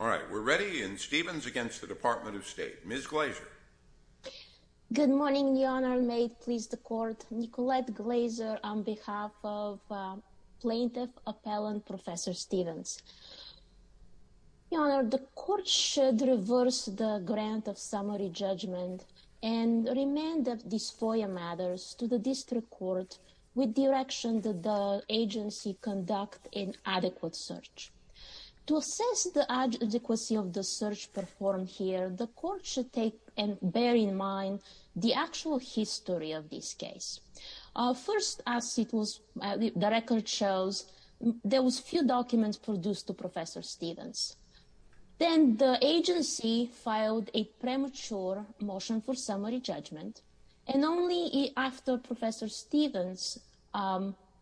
All right, we're ready and Stevens against the Department of State, Ms. Glaser. Good morning, Your Honor. May it please the court, Nicolette Glaser on behalf of plaintiff appellant Professor Stevens. Your Honor, the court should reverse the grant of summary judgment and remand of these FOIA matters to the district court with direction that the agency conduct an adequate search. To assess the adequacy of the search performed here, the court should take and bear in mind the actual history of this case. First, as the record shows, there was few documents produced to Professor Stevens. Then the agency filed a premature motion for summary judgment, and only after Professor Stevens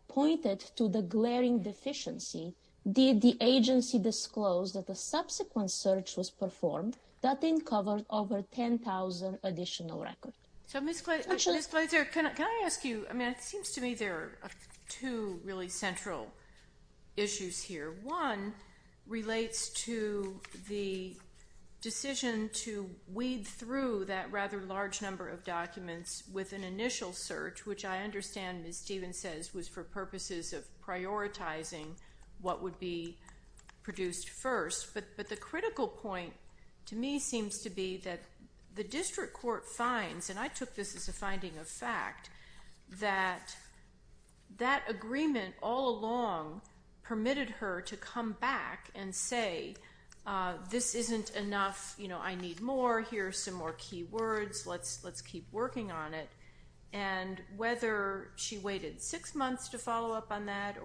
pointed to the glaring deficiency did the agency disclose that the subsequent search was performed. That didn't cover over 10,000 additional records. So, Ms. Glaser, can I ask you, I mean, it seems to me there are two really central issues here. One relates to the decision to weed through that rather large number of documents with an initial search, which I understand, as Steven says, was for purposes of prioritizing what would be produced first. But the critical point to me seems to be that the district court finds, and I took this as a finding of fact, that that agreement all along permitted her to come back and say, this isn't enough, you know, I need more, here's some more key words, let's keep working on it. And whether she waited six months to follow up on that,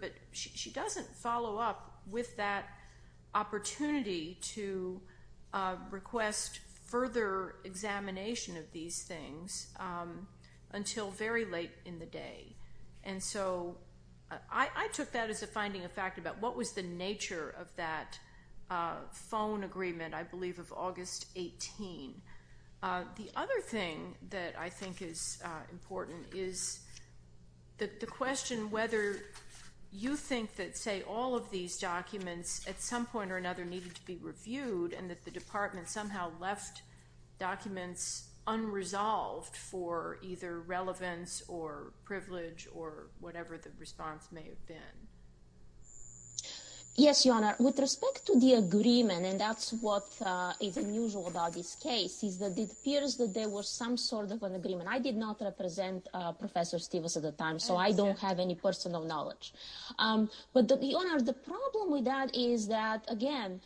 but she doesn't follow up with that opportunity to request further examination of these things until very late in the day. And so I took that as a finding of fact about what was the nature of that phone agreement, I believe, of August 18. The other thing that I think is important is that the question whether you think that, say, all of these documents at some point or another needed to be reviewed and that the department somehow left documents unresolved for either relevance or privilege or whatever the response may have been. Yes, Your Honor. With respect to the agreement, and that's what is unusual about this case, is that it appears that there was some sort of an agreement. I did not represent Professor Stevens at the time, so I don't have any personal knowledge. But Your Honor, the problem with that is that, again,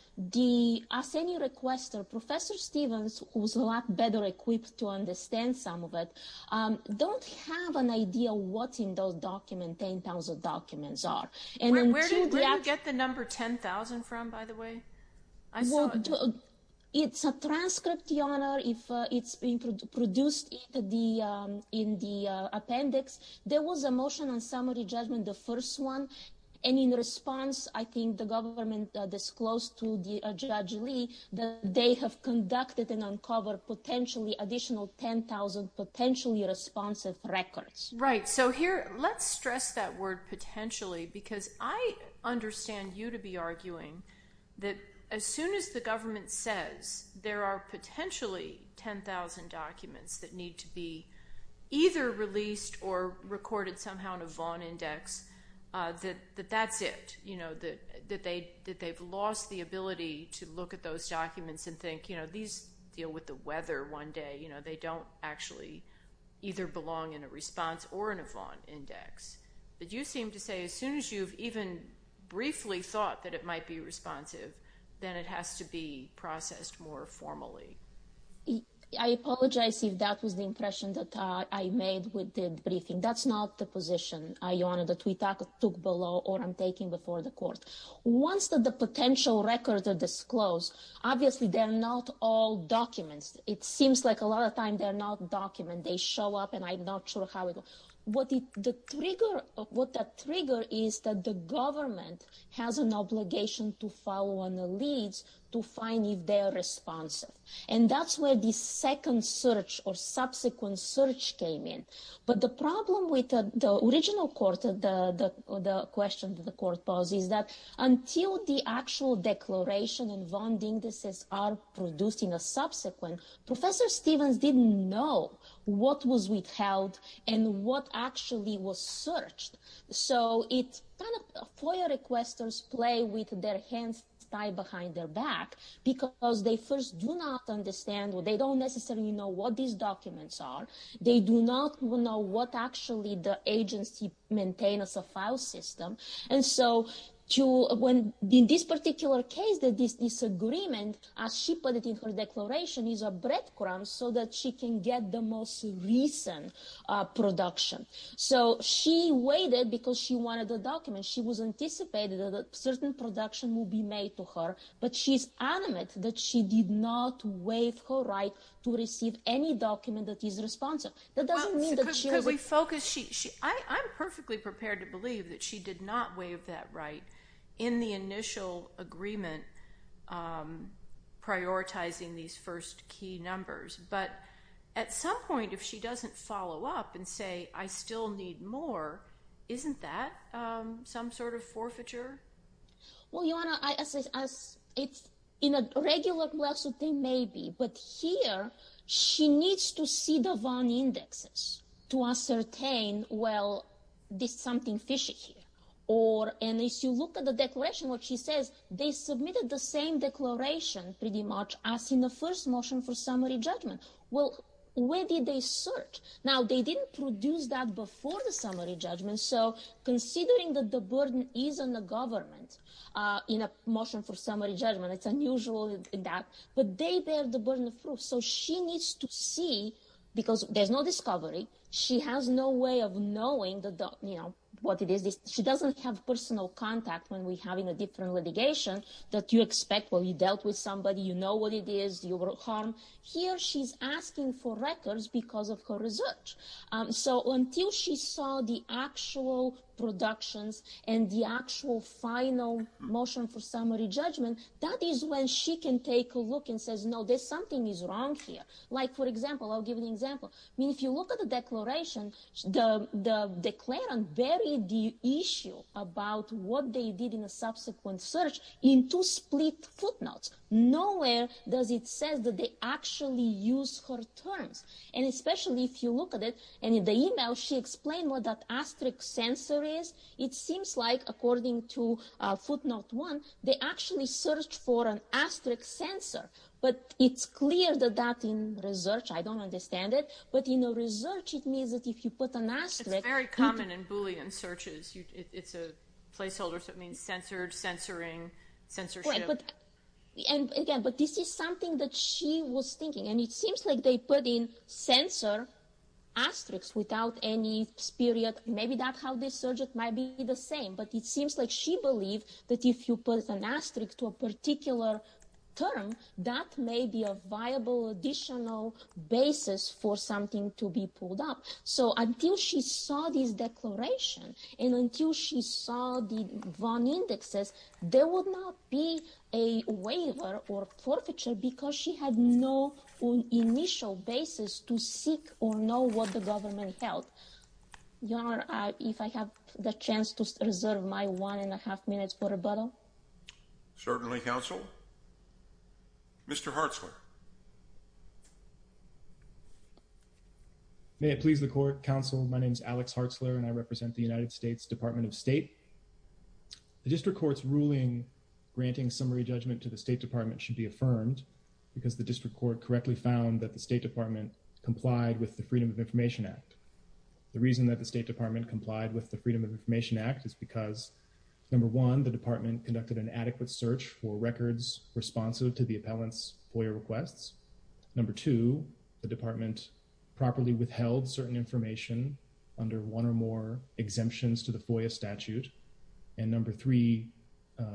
as any requester, Professor Stevens was a lot better equipped to understand some of it, don't have an idea what in those documents, 10,000 documents are. Where did you get the number 10,000 from, by the way? I saw it. It's a transcript, Your Honor, if it's been produced in the appendix. There was a motion on summary judgment, the first one. And in response, I think the government disclosed to Judge Lee that they have conducted and uncovered potentially additional 10,000 potentially responsive records. Right. So here, let's stress that word potentially, because I understand you to be arguing that as soon as the government says there are potentially 10,000 documents that need to be either released or recorded somehow in a Vaughn Index, that that's it, that they've lost the ability to look at those documents and think, these deal with the weather one day. They don't actually either belong in a response or in a Vaughn Index. But you seem to say as soon as you've even briefly thought that it might be responsive, then it has to be processed more formally. I apologize if that was the impression that I made with the briefing. That's not the position, Your Honor, that we took below or I'm taking before the court. Once the potential records are disclosed, obviously they're not all documents. It seems like a lot of time they're not documents. They show up and I'm not sure how it will. What that trigger is that the government has an obligation to follow on the leads to find if they're responsive. And that's where the second search or subsequent search came in. But the problem with the original court, the question that the court posed is that until the actual declaration and Vaughn Indexes are producing a subsequent, Professor Stevens didn't know what was withheld and what actually was searched. So it's kind of FOIA requesters play with their hands tied behind their back because they first do not understand or they don't necessarily know what these documents are. They do not know what actually the agency maintains as a file system. And so in this particular case, this disagreement, as she put it in her declaration, is a breadcrumb so that she can get the most recent production. So she waited because she wanted the document. She was anticipated that a certain production will be made to her, but she's adamant that she did not waive her right to receive any document that is responsive. That doesn't mean that she... I'm perfectly prepared to believe that she did not waive that right in the initial agreement prioritizing these first key numbers. But at some point, if she doesn't follow up and say, I still need more, isn't that some sort of forfeiture? Well, Ioana, in a regular lawsuit, they may be, but here she needs to see the Vaughn here. And if you look at the declaration, what she says, they submitted the same declaration, pretty much, as in the first motion for summary judgment. Well, where did they search? Now, they didn't produce that before the summary judgment. So considering that the burden is on the government in a motion for summary judgment, it's unusual in that, but they bear the burden of proof. So she needs to see, because there's no discovery, she has no way of knowing what it is she doesn't have personal contact when we're having a different litigation that you expect when you dealt with somebody, you know what it is, your harm. Here she's asking for records because of her research. So until she saw the actual productions and the actual final motion for summary judgment, that is when she can take a look and says, no, there's something is wrong here. Like for example, I'll give an example. I mean, if you look at the declaration, the declarant buried the issue about what they did in a subsequent search into split footnotes. Nowhere does it say that they actually use her terms. And especially if you look at it, and in the email, she explained what that asterisk sensor is. It seems like according to footnote one, they actually searched for an asterisk sensor, but it's clear that that in research, I don't understand it, but in the research, it means that if you put an asterisk. It's very common in Boolean searches. It's a placeholder. So it means censored, censoring, censorship. And again, but this is something that she was thinking, and it seems like they put in sensor asterisks without any spirit. Maybe that's how this search might be the same, but it seems like she believed that if you put an asterisk to a particular term, that may be a viable additional basis for something to be pulled up. So until she saw this declaration, and until she saw the VON indexes, there would not be a waiver or forfeiture because she had no initial basis to seek or know what the government held. Your Honor, if I have the chance to reserve my one and a half minutes for rebuttal. Certainly, Counsel. Mr. Hartzler. May it please the Court, Counsel. My name is Alex Hartzler, and I represent the United States Department of State. The District Court's ruling granting summary judgment to the State Department should be affirmed because the District Court correctly found that the State Department complied with the Freedom of Information Act. The reason that the State Department complied with the Freedom of Information Act is because, number one, the Department conducted an adequate search for records responsive to the appellant's FOIA requests. Number two, the Department properly withheld certain information under one or more exemptions to the FOIA statute. And number three,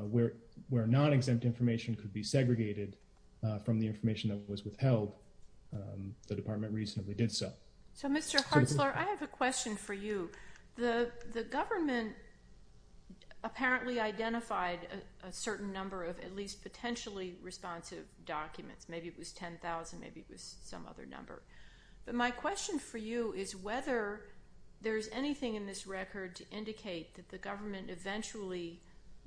where non-exempt information could be segregated from the information that was withheld, the Department reasonably did so. So, Mr. Hartzler, I have a question for you. The government apparently identified a certain number of at least potentially responsive documents. Maybe it was 10,000, maybe it was some other number. But my question for you is whether there's anything in this record to indicate that the government eventually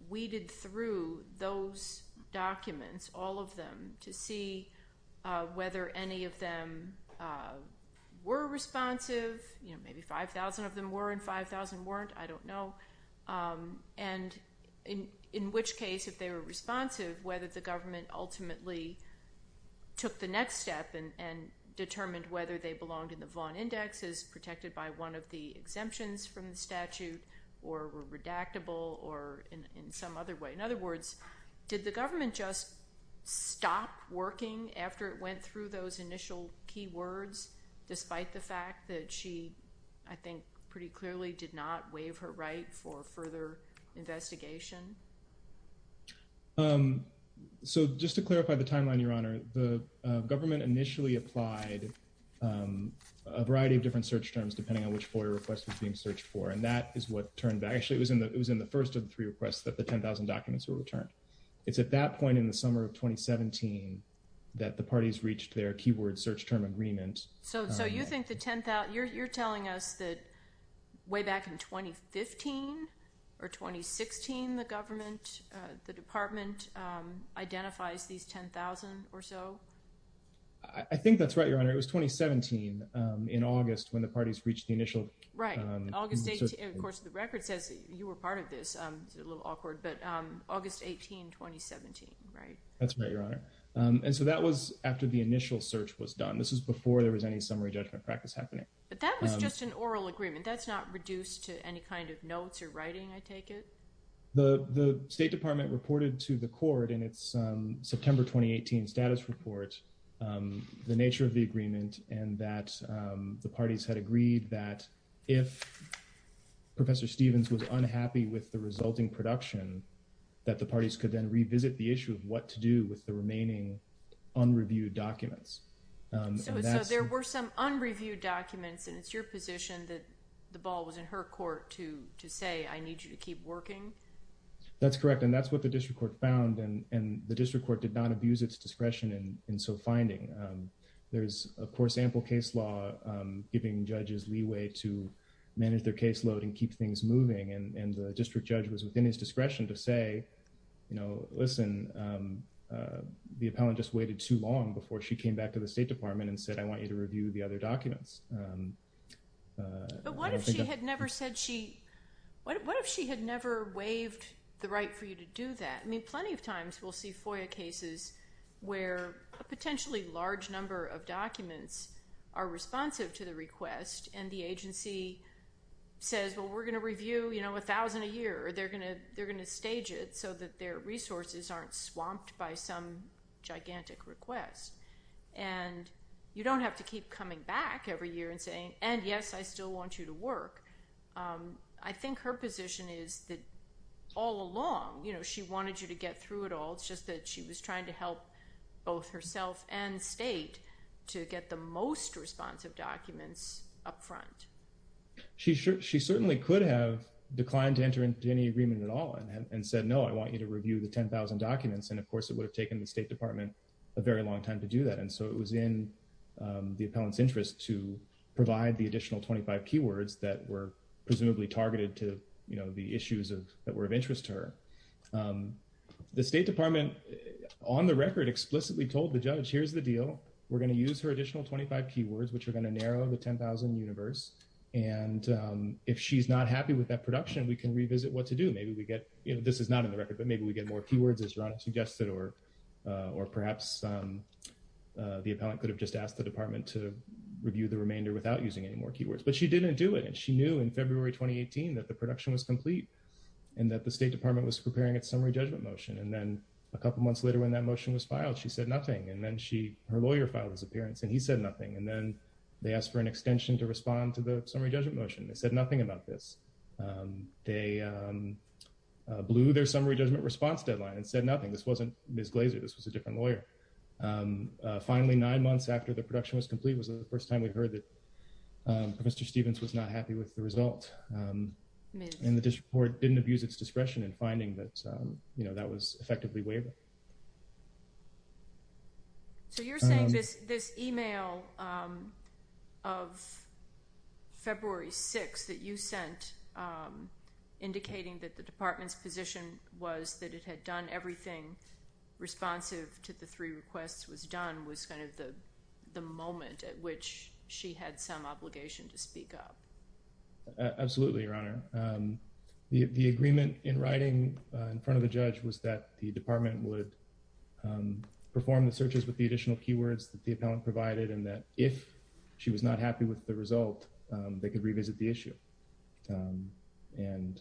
weeded through those documents, all of them, to see whether any of them were responsive. You know, maybe 5,000 of them were and 5,000 weren't. I don't know. And in which case, if they were responsive, whether the government ultimately took the next step and determined whether they belonged in the Vaughn Index as protected by one of the exemptions from the statute or were redactable or in some other way. In other words, did the government apply a variety of different search terms depending on which FOIA request was being searched for? And that is what turned, actually, it was in the first of the three requests that the 10,000 documents were returned. It's at that point in the summer of 2017 that the parties term agreement. So you think the 10,000, you're telling us that way back in 2015 or 2016, the government, the department identifies these 10,000 or so? I think that's right, Your Honor. It was 2017 in August when the parties reached the initial... Right, August 18. Of course, the record says you were part of this. It's a little awkward, but August 18, 2017, right? That's right, Your Honor. And so that was after the initial search was done. This is before there was any summary judgment practice happening. But that was just an oral agreement. That's not reduced to any kind of notes or writing, I take it? The State Department reported to the court in its September 2018 status report the nature of the agreement and that the parties had agreed that if Professor Stevens was unhappy with the resulting production, that the parties could then revisit the issue of what to do with the remaining unreviewed documents. So there were some unreviewed documents, and it's your position that the ball was in her court to say, I need you to keep working? That's correct, and that's what the district court found, and the district court did not abuse its discretion in so finding. There's, of course, ample case law giving judges leeway to manage their caseload and keep things moving, and the district judge was within his discretion to say, you know, listen, the appellant just waited too long before she came back to the State Department and said, I want you to review the other documents. But what if she had never said she, what if she had never waived the right for you to do that? I mean, plenty of times we'll see FOIA cases where a potentially large number of documents are responsive to the request, and the agency says, well, we're going review, you know, a thousand a year, or they're going to stage it so that their resources aren't swamped by some gigantic request. And you don't have to keep coming back every year and saying, and yes, I still want you to work. I think her position is that all along, you know, she wanted you to get through it all. It's just that she was trying to help both herself and state to get the most responsive documents up front. She certainly could have declined to enter into any agreement at all and said, no, I want you to review the 10,000 documents. And of course it would have taken the State Department a very long time to do that. And so it was in the appellant's interest to provide the additional 25 keywords that were presumably targeted to, you know, the issues that were of interest to her. The State Department, on the record, explicitly told the judge, here's the deal, we're going to use her additional 25 keywords, which are going to narrow the 10,000 universe. And if she's not happy with that production, we can revisit what to do. Maybe we get, you know, this is not in the record, but maybe we get more keywords as Ron suggested, or perhaps the appellant could have just asked the department to review the remainder without using any more keywords, but she didn't do it. And she knew in February, 2018, that the production was complete and that the State Department was preparing its summary judgment motion. And then a couple of months later, when that motion was filed, she said nothing. And then she, her lawyer filed his appearance and he said nothing. And then they asked for an extension to respond to the summary judgment motion. They said nothing about this. They blew their summary judgment response deadline and said nothing. This wasn't Ms. Glazer, this was a different lawyer. Finally, nine months after the production was complete was the first time we heard that Mr. Stevens was not happy with the report, or didn't abuse its discretion in finding that, you know, that was effectively waived. So you're saying this, this email of February 6th that you sent, indicating that the department's position was that it had done everything responsive to the three requests was done, was kind of the moment at which she had some obligation to speak up? Absolutely, Your Honor. The, the agreement in writing in front of the judge was that the department would perform the searches with the additional keywords that the appellant provided, and that if she was not happy with the result, they could revisit the issue. And,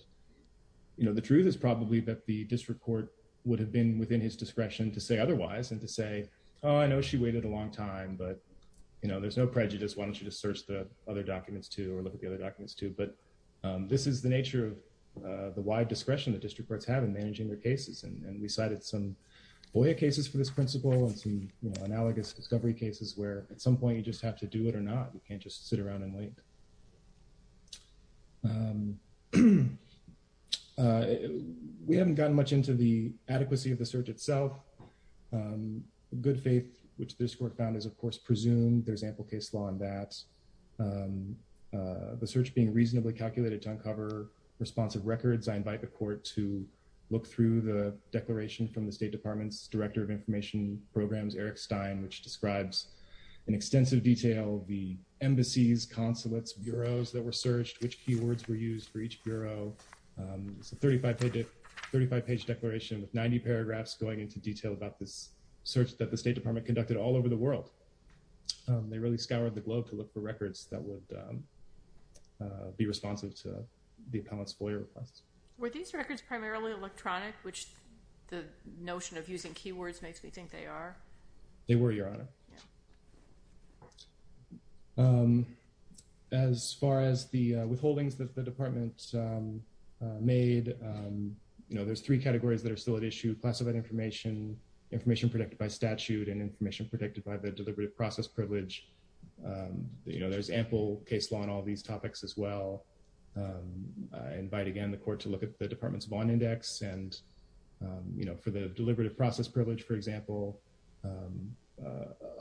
you know, the truth is probably that the district court would have been within his discretion to say otherwise and to say, oh, I know she waited a long time, but you know, there's no prejudice. Why don't you just search the other documents too, or look at the other documents too. But this is the nature of the wide discretion that district courts have in managing their cases. And we cited some FOIA cases for this principle and some, you know, analogous discovery cases where at some point you just have to do it or not. You can't just sit around and wait. We haven't gotten much into the adequacy of the search itself. Good faith, which this court found is, of course, presumed there's ample case law in that. The search being reasonably calculated to uncover responsive records, I invite the court to look through the declaration from the State Department's Director of Information Programs, Eric Stein, which describes in extensive detail the embassies, consulates, bureaus that were searched, which keywords were used for each bureau. It's a 35 page declaration with 90 paragraphs going into detail about this search that the they really scoured the globe to look for records that would be responsive to the appellant's FOIA requests. Were these records primarily electronic, which the notion of using keywords makes me think they are? They were, Your Honor. As far as the withholdings that the department made, you know, there's three categories that are still at issue. Classified information, information predicted by statute, and information predicted by the deliberative process privilege. You know, there's ample case law in all these topics as well. I invite, again, the court to look at the department's bond index and, you know, for the deliberative process privilege, for example,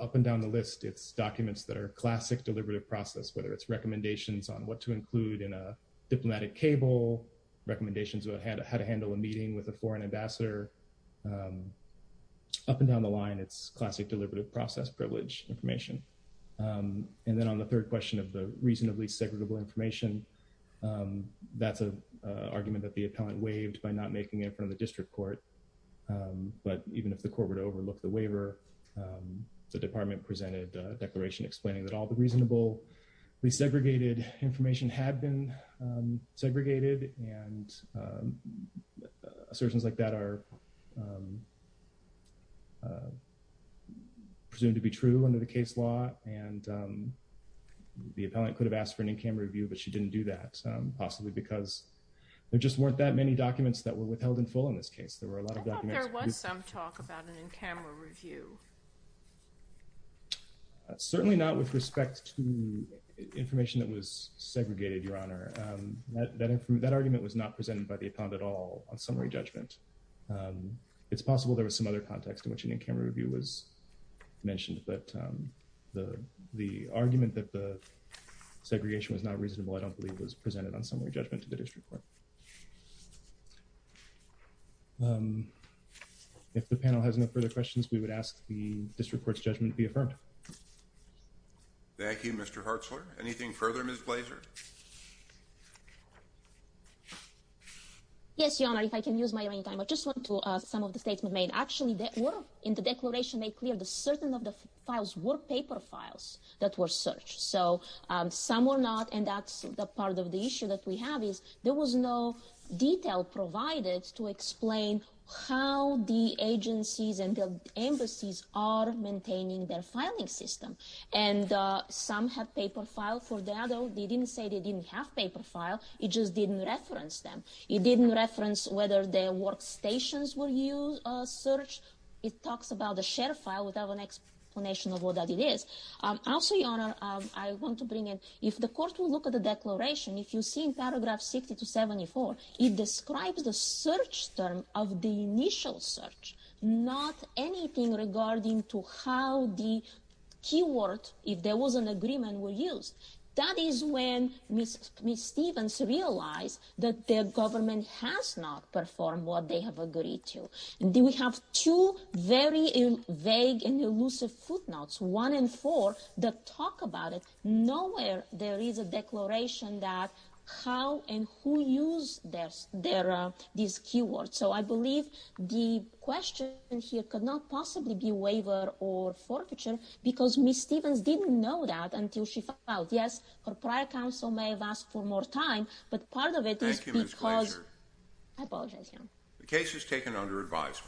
up and down the list, it's documents that are classic deliberative process, whether it's recommendations on what to include in a diplomatic cable, recommendations about how to handle a foreign ambassador. Up and down the line, it's classic deliberative process privilege information. And then on the third question of the reasonably segregable information, that's an argument that the appellant waived by not making it in front of the district court. But even if the court were to overlook the waiver, the department presented a declaration explaining that all the reasonably segregated information had been segregated and assertions like that are presumed to be true under the case law and the appellant could have asked for an in-camera review, but she didn't do that, possibly because there just weren't that many documents that were withheld in full in this case. There were a lot of documents. I thought there was some talk about an in-camera review. Certainly not with respect to information that was segregated, Your Honor. That argument was not presented by the appellant at all on summary judgment. It's possible there was some other context in which an in-camera review was mentioned, but the argument that the segregation was not reasonable, I don't believe, was presented on summary judgment to the district court. If the panel has no further questions, we would ask the district court's judgment to be affirmed. Thank you, Mr. Hartzler. Anything further, Ms. Blaser? Yes, Your Honor. If I can use my remaining time, I just want to some of the statements made. Actually, they were in the declaration made clear that certain of the files were paper files that were searched. So some were not, and that's the part of the issue that we have is there was no detail provided to explain how the agencies and the embassies are maintaining their filing system, and some have paper file for that. They didn't say they didn't have paper file. It just didn't reference them. It didn't reference whether their workstations were used, a search. It talks about the share file without an explanation of what that it is. Also, Your Honor, I want to bring in, if the court will look at the declaration, if you see in paragraph 60 to 74, it describes the search term of the initial search, not anything regarding to how the keyword, if there was an agreement, were used. That is when Ms. Stevens realized that their government has not performed what they have agreed to. We have two very vague and elusive footnotes, one and four, that talk about it. Nowhere there is a declaration that how and who used this keyword. So I believe the question here could not possibly be waiver or forfeiture because Ms. Stevens didn't know that until she heard prior counsel may have asked for more time, but part of it is because... Thank you, Ms. Glaser. I apologize, Your Honor. The case is taken under advisement.